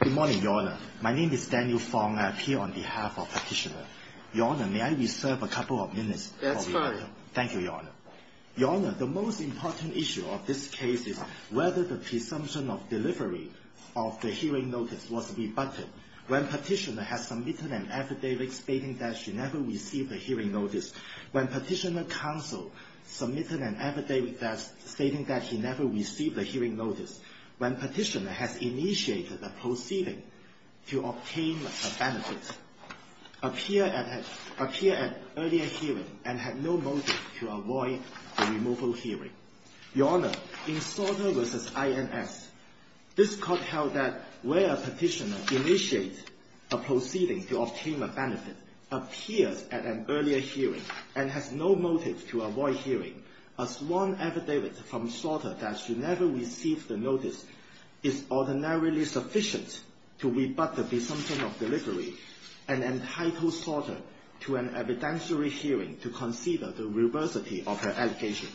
Good morning, Your Honour. My name is Daniel Fong. I appear on behalf of the Petitioner. Your Honour, may I reserve a couple of minutes? That's fine. Thank you, Your Honour. Your Honour, the most important issue of this case is whether the presumption of delivery of the hearing notice was rebutted. When Petitioner has submitted an affidavit stating that she never received a hearing notice, when Petitioner counsel submitted an affidavit stating that she never received a hearing notice, when Petitioner has initiated the proceeding to obtain a benefit, appears at an earlier hearing and has no motive to avoid the removal hearing. Your Honour, in Sorter v. INS, this court held that when a Petitioner initiates a proceeding to obtain a benefit, appears at an earlier hearing and has no motive to avoid hearing a sworn affidavit from Sorter that she never received the notice is ordinarily sufficient to rebut the presumption of delivery and entitle Sorter to an evidentiary hearing to consider the reversity of her allegation.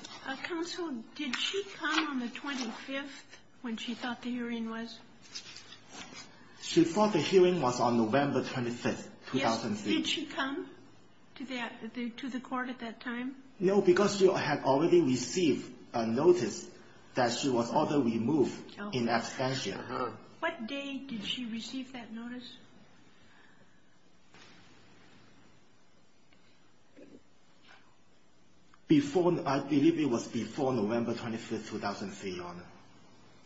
Counsel, did she come on the 25th when she thought the hearing was? She thought the hearing was on November 25th, 2003. Did she come to the court at that time? No, because she had already received a notice that she was ordered removed in absentia. What date did she receive that notice? I believe it was before November 25th, 2003, Your Honour.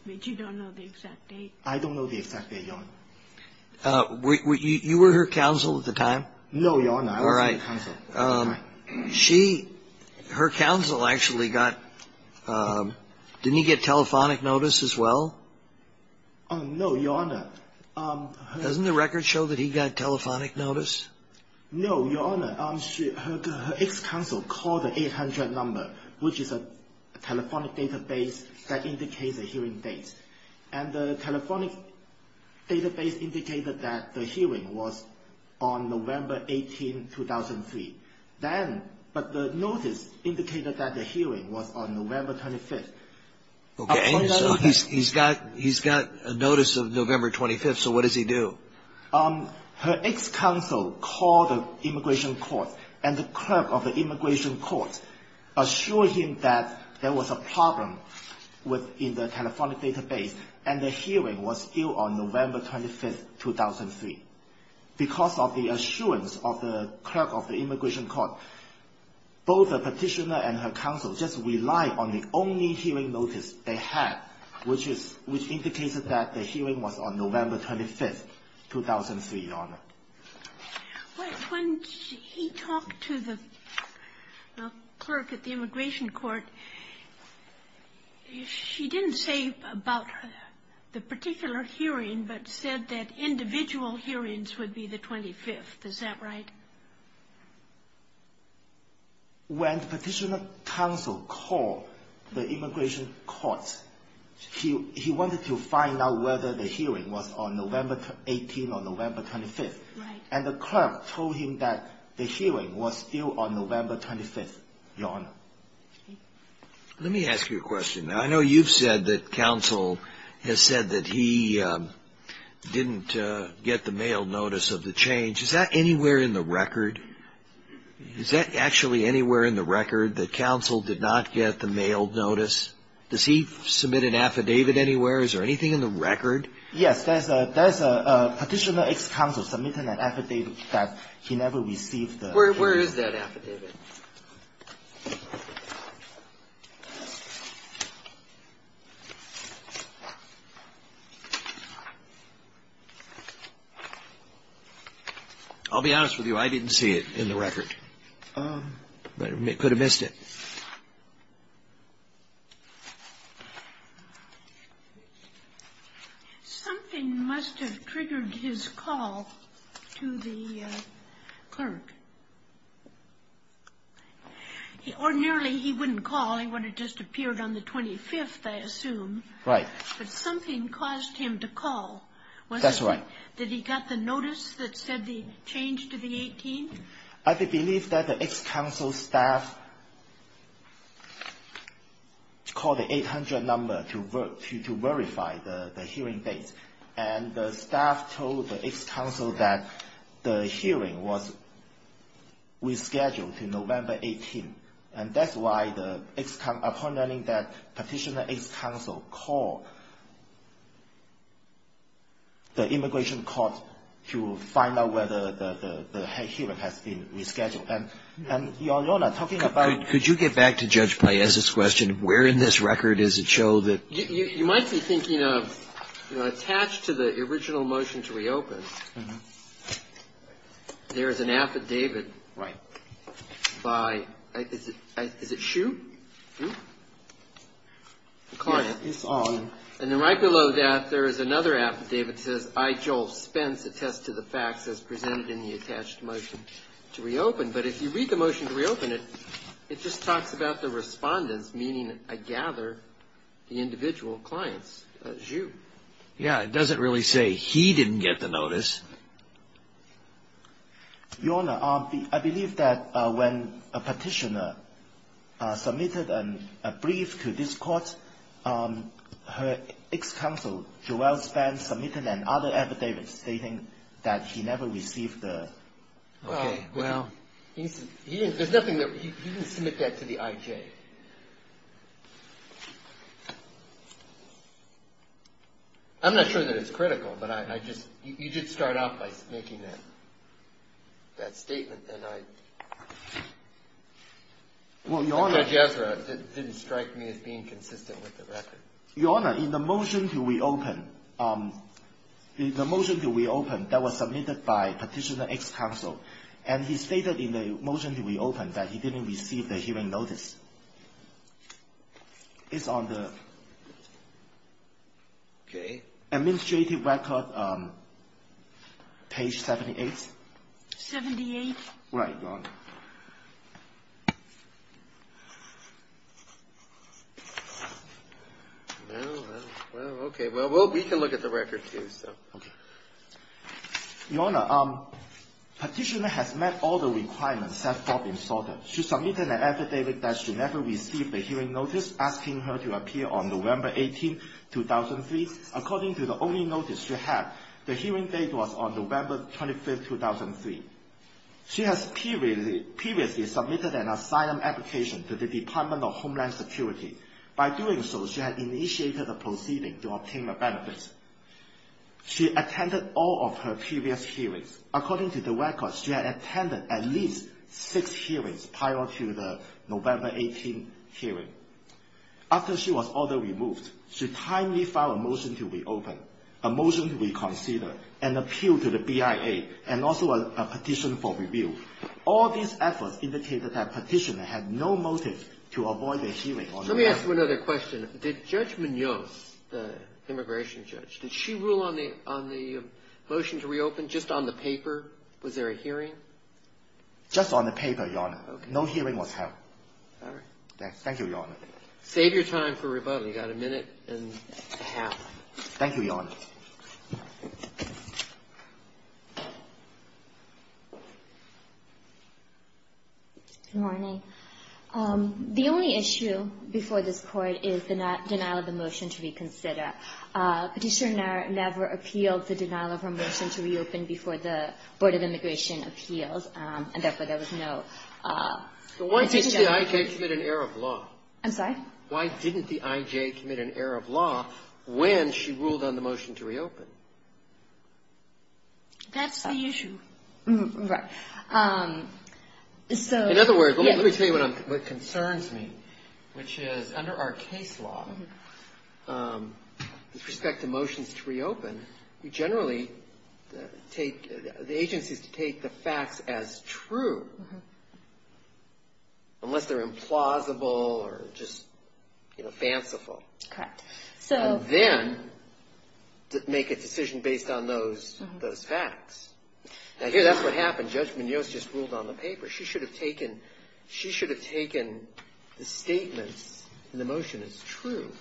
But you don't know the exact date? I don't know the exact date, Your Honour. You were her counsel at the time? No, Your Honour, I was not her counsel. She, her counsel actually got, didn't he get telephonic notice as well? No, Your Honour. Doesn't the record show that he got telephonic notice? No, Your Honour. Her ex-counsel called the 800 number, which is a telephonic database that indicates And the telephonic database indicated that the hearing was on November 18, 2003. Then, but the notice indicated that the hearing was on November 25th. Okay, so he's got a notice of November 25th, so what does he do? Her ex-counsel called the immigration court, and the clerk of the immigration court assured him that there was a problem within the telephonic database, and the hearing was due on November 25th, 2003. Because of the assurance of the clerk of the immigration court, both the Petitioner and her counsel just relied on the only hearing notice they had, which is, which indicated that the hearing was on November 25th, 2003, Your Honour. When he talked to the clerk at the immigration court, she didn't say about the particular hearing, but said that individual hearings would be the 25th. Is that right? When Petitioner's counsel called the immigration courts, he wanted to find out whether the hearing was on November 18 or November 25th. Right. And the clerk told him that the hearing was due on November 25th, Your Honour. Let me ask you a question. Now, I know you've said that counsel has said that he didn't get the mailed notice of the change. Is that anywhere in the record? Is that actually anywhere in the record, that counsel did not get the mailed notice? Does he submit an affidavit anywhere? Is there anything in the record? Yes. There's a Petitioner's ex-counsel submitting an affidavit that he never received. Where is that affidavit? I'll be honest with you. I didn't see it in the record. Could have missed it. Something must have triggered his call to the clerk. Ordinarily, he wouldn't call. He would have just appeared on the 25th, I assume. Right. But something caused him to call. That's right. Did he get the notice that said the change to the 18th? I believe that the ex-counsel's staff called the 800 number to verify the hearing date. And the staff told the ex-counsel that the hearing was rescheduled to November 18th. And that's why the ex-counsel, upon learning that Petitioner's ex-counsel called the immigration court to find out whether the hearing has been rescheduled. And Your Honor, talking about — Could you get back to Judge Paez's question? Where in this record does it show that — You might be thinking of, you know, attached to the original motion to reopen, there is an affidavit by — is it Shue? The client. Yes, it's on. And then right below that, there is another affidavit that says, I, Joel Spence, attest to the facts as presented in the attached motion to reopen. But if you read the motion to reopen, it just talks about the respondents, meaning, I gather, the individual clients, Shue. Yeah, it doesn't really say he didn't get the notice. Your Honor, I believe that when Petitioner submitted a brief to this court, her ex-counsel, Joel Spence, submitted another affidavit stating that he never received the — Okay, well — He didn't — there's nothing that — he didn't submit that to the IJ. I'm not sure that it's critical, but I just — you did start off by making that statement, and I — Well, Your Honor — Judge Ezra didn't strike me as being consistent with the record. Your Honor, in the motion to reopen, the motion to reopen that was submitted by Petitioner's ex-counsel, and he stated in the motion to reopen that he didn't receive the hearing notice. It's on the administrative record, page 78. Right, Your Honor. Well, okay, well, we can look at the record, too, so — Okay. Your Honor, Petitioner has met all the requirements set forth in Sorter. She submitted an affidavit that she never received a hearing notice, asking her to appear on November 18, 2003. According to the only notice she had, the hearing date was on November 25, 2003. She has previously submitted an asylum application to the Department of Homeland Security. By doing so, she had initiated a proceeding to obtain the benefits. She attended all of her previous hearings. According to the record, she had attended at least six hearings prior to the November 18 hearing. After she was ordered removed, she timely filed a motion to reopen, a motion to reconsider, an appeal to the BIA, and also a petition for review. All these efforts indicated that Petitioner had no motive to avoid a hearing on November 18. Let me ask you another question. Did Judge Munoz, the immigration judge, did she rule on the motion to reopen just on the paper? Was there a hearing? Just on the paper, Your Honor. Okay. No hearing was held. All right. Thank you, Your Honor. Save your time for rebuttal. You've got a minute and a half. Thank you, Your Honor. Good morning. The only issue before this Court is the denial of the motion to reconsider. Petitioner never appealed the denial of her motion to reopen before the Board of Immigration appeals, and therefore there was no petition. Why didn't the I.J. commit an error of law? I'm sorry? Why didn't the I.J. commit an error of law when she ruled on the motion to reopen? That's the issue. Right. In other words, let me tell you what concerns me, which is under our case law, with respect to motions to reopen, we generally take the agencies to take the facts as true, unless they're implausible or just fanciful. Correct. And then make a decision based on those facts. Now, here, that's what happened. Judge Munoz just ruled on the paper. She should have taken the statements in the motion as true,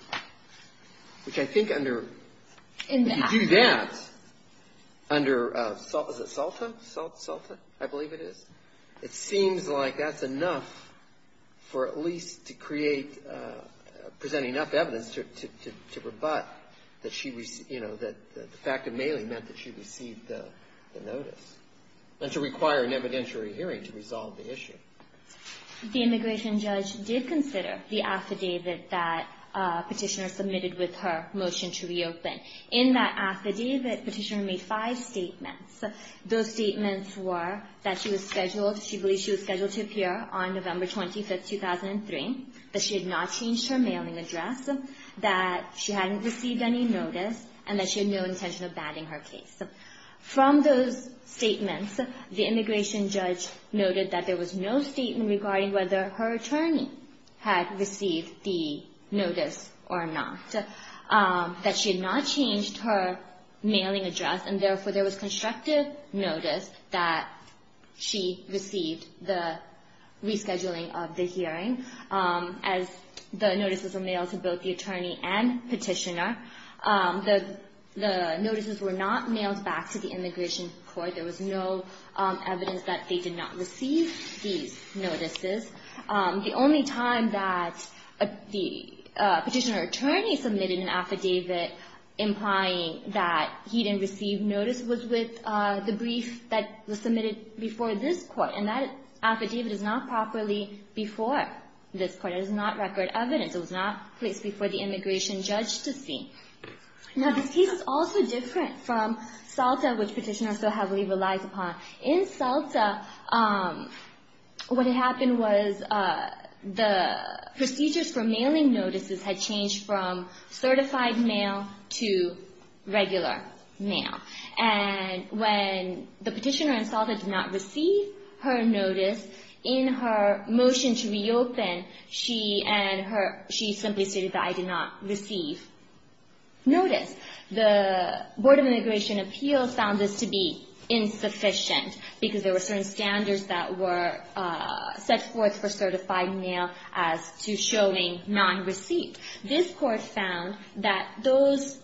which I think under the duty of evidence to rebut the fact that she received the notice, and to require an evidentiary hearing to resolve the issue. The immigration judge did consider the affidavit that Petitioner submitted with her motion to reopen. In that affidavit, Petitioner made five statements. Those statements were that she was scheduled to appear on November 25, 2003, that she had not changed her mailing address, that she hadn't received any notice, and that she had no intention of batting her case. From those statements, the immigration judge noted that there was no statement regarding whether her attorney had received the notice or not, that she had not changed her mailing address, and therefore there was constructive notice that she received the rescheduling of the hearing. As the notices were mailed to both the attorney and Petitioner, the notices were not mailed back to the immigration court. There was no evidence that they did not receive these notices. The only time that the Petitioner attorney submitted an affidavit implying that he didn't receive notice was with the brief that was submitted before this court, and that affidavit is not properly before this court. It is not record evidence. It was not placed before the immigration judge to see. Now, this case is also different from SALTA, which Petitioner so heavily relies upon. In SALTA, what happened was the procedures for mailing notices had changed from certified mail to regular mail. And when the Petitioner in SALTA did not receive her notice, in her motion to reopen, she simply stated that I did not receive notice. The Board of Immigration Appeals found this to be insufficient because there were certain standards that were set forth for certified mail as to showing non-receipt. This court found that those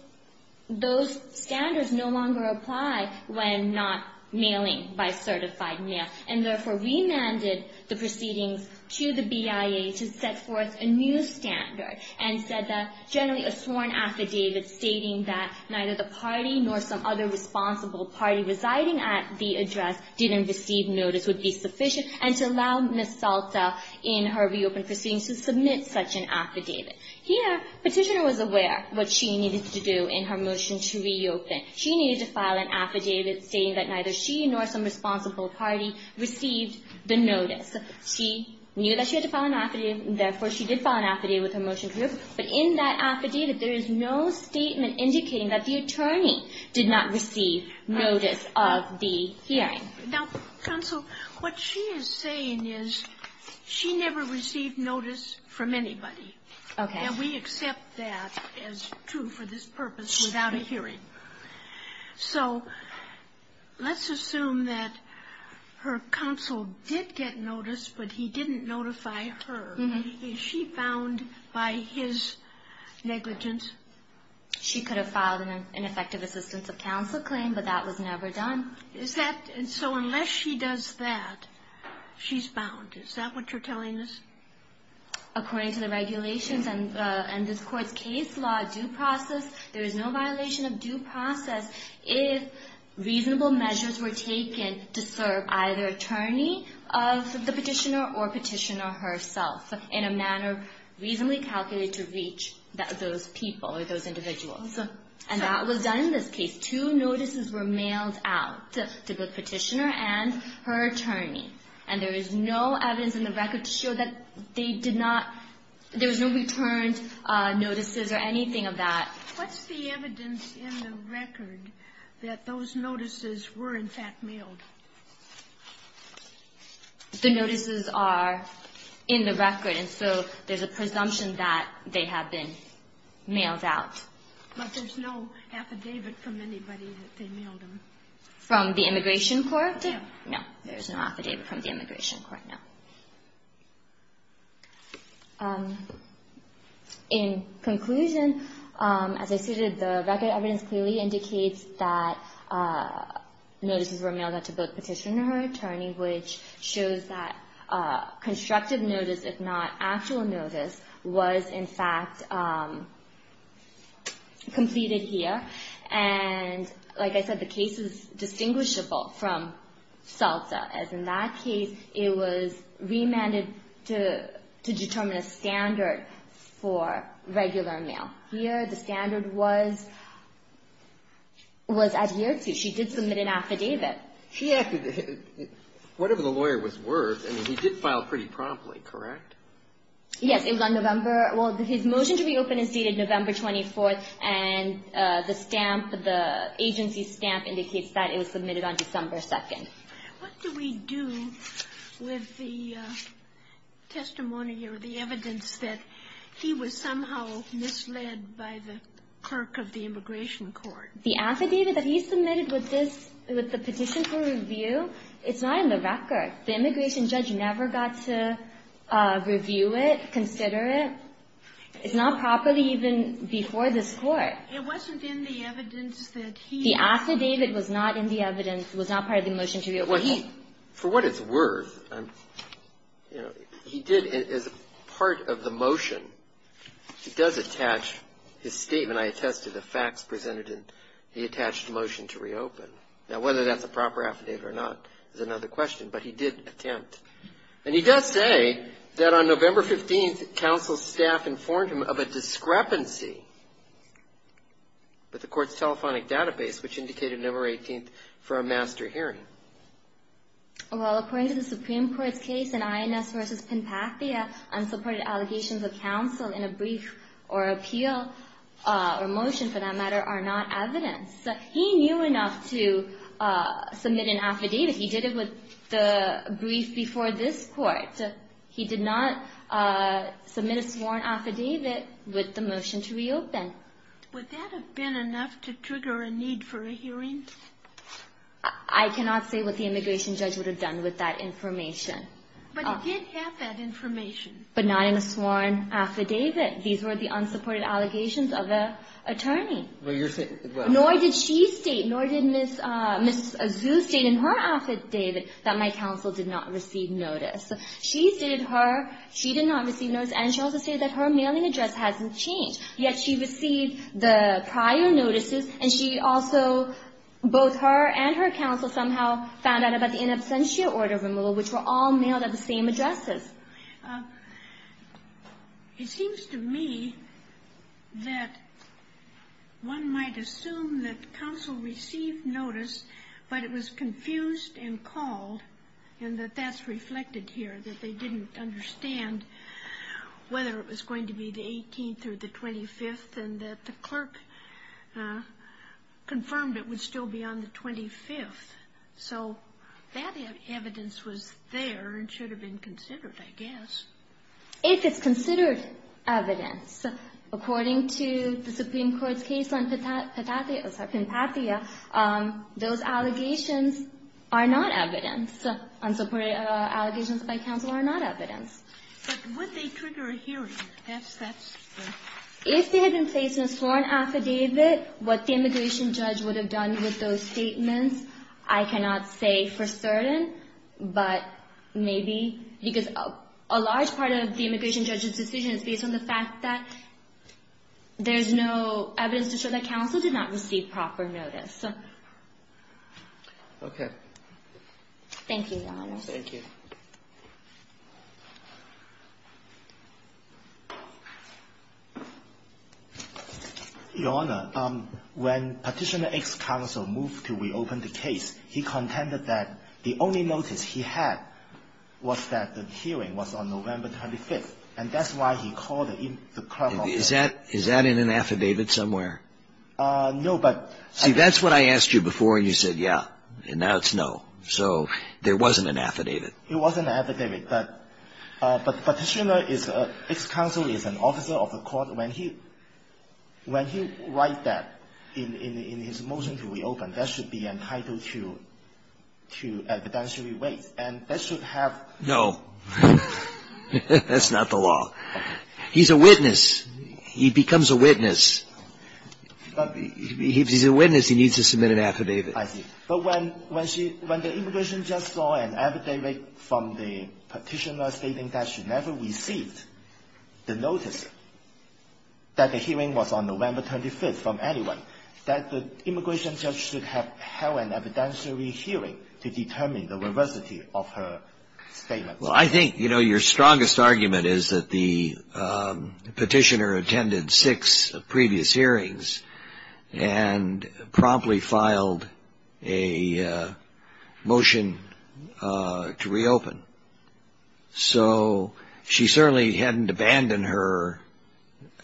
standards no longer apply when not mailing by certified mail, and therefore remanded the proceedings to the BIA to set forth a new standard, and said that generally a sworn affidavit stating that neither the party nor some other responsible party residing at the address didn't receive notice would be sufficient, and to allow Ms. SALTA in her reopened proceedings to submit such an affidavit. Here, Petitioner was aware what she needed to do in her motion to reopen. She needed to file an affidavit stating that neither she nor some responsible party received the notice. She knew that she had to file an affidavit, and therefore she did file an affidavit with her motion to reopen. But in that affidavit, there is no statement indicating that the attorney did not receive notice of the hearing. Sotomayor, what she is saying is she never received notice from anybody. Okay. And we accept that as true for this purpose without a hearing. So let's assume that her counsel did get notice, but he didn't notify her. Is she bound by his negligence? She could have filed an effective assistance of counsel claim, but that was never done. So unless she does that, she's bound. Is that what you're telling us? According to the regulations and this Court's case law due process, there is no violation of due process if reasonable measures were taken to serve either attorney of the petitioner or petitioner herself in a manner reasonably calculated to reach those people or those individuals. And that was done in this case. Two notices were mailed out to the petitioner and her attorney. And there is no evidence in the record to show that they did not – there was no returned notices or anything of that. What's the evidence in the record that those notices were, in fact, mailed? The notices are in the record, and so there's a presumption that they have been mailed out. But there's no affidavit from anybody that they mailed them? From the Immigration Court? No. No, there's no affidavit from the Immigration Court, no. In conclusion, as I stated, the record evidence clearly indicates that notices were mailed out to both petitioner and her attorney, which shows that constructive notice, if not actual notice, was, in fact, completed here. And like I said, the case is distinguishable from SALSA, as in that case it was remanded to determine a standard for regular mail. Here the standard was adhered to. She did submit an affidavit. Whatever the lawyer was worth, I mean, he did file pretty promptly, correct? Yes. It was on November. Well, his motion to reopen is dated November 24th, and the stamp, the agency stamp indicates that it was submitted on December 2nd. What do we do with the testimony or the evidence that he was somehow misled by the clerk of the Immigration Court? The affidavit that he submitted with this, with the petition for review, it's not in the record. The immigration judge never got to review it, consider it. It's not properly even before this Court. It wasn't in the evidence that he had. The affidavit was not in the evidence, was not part of the motion to reopen. For what it's worth, you know, he did, as part of the motion, he does attach his statement. I attested the facts presented in the attached motion to reopen. Now, whether that's a proper affidavit or not is another question, but he did attempt. And he does say that on November 15th, counsel's staff informed him of a discrepancy with the Court's telephonic database, which indicated November 18th for a master hearing. Well, according to the Supreme Court's case in INS versus Penpathia, unsupported allegations of counsel in a brief or appeal or motion, for that matter, are not evidence. He knew enough to submit an affidavit. He did it with the brief before this Court. He did not submit a sworn affidavit with the motion to reopen. Would that have been enough to trigger a need for a hearing? I cannot say what the immigration judge would have done with that information. But he did have that information. But not in a sworn affidavit. These were the unsupported allegations of an attorney. Nor did she state, nor did Ms. Zu state in her affidavit, that my counsel did not receive notice. She stated her, she did not receive notice, and she also stated that her mailing address hasn't changed. Yet she received the prior notices, and she also, both her and her counsel somehow found out about the in absentia order removal, which were all mailed at the same addresses. It seems to me that one might assume that counsel received notice, but it was confused and called, and that that's reflected here, that they didn't understand whether it was going to be the 18th or the 25th, and that the clerk confirmed it would still be on the 25th. So that evidence was there and should have been considered, I guess. If it's considered evidence, according to the Supreme Court's case on Pinpatia, those allegations are not evidence. Unsupported allegations by counsel are not evidence. But would they trigger a hearing? That's the question. If they had been placed in a sworn affidavit, what the immigration judge would have done with those statements, I cannot say for certain, but maybe, because a large part of the immigration judge's decision is based on the fact that there's no evidence to show that counsel did not receive proper notice. Okay. Thank you, Your Honor. Thank you. Your Honor, when Petitioner X counsel moved to reopen the case, he contended that the only notice he had was that the hearing was on November 25th, and that's why he called the clerk. Is that in an affidavit somewhere? No, but ---- See, that's what I asked you before, and you said, yeah, and now it's no. There wasn't an affidavit. But Petitioner X counsel is an officer of the court. When he writes that in his motion to reopen, that should be entitled to evidentiary weight, and that should have ---- No. That's not the law. He's a witness. He becomes a witness. If he's a witness, he needs to submit an affidavit. I see. But when she ---- when the immigration judge saw an affidavit from the petitioner stating that she never received the notice that the hearing was on November 25th from anyone, that the immigration judge should have held an evidentiary hearing to determine the veracity of her statement. Well, I think, you know, your strongest argument is that the petitioner attended six previous hearings and promptly filed a motion to reopen. So she certainly hadn't abandoned her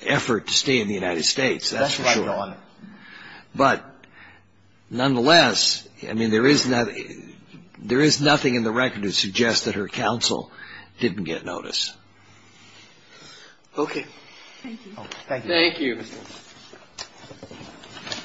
effort to stay in the United States. That's for sure. That's right, Your Honor. But nonetheless, I mean, there is nothing in the record to suggest that her counsel didn't get notice. Okay. Thank you. Thank you. Thank you.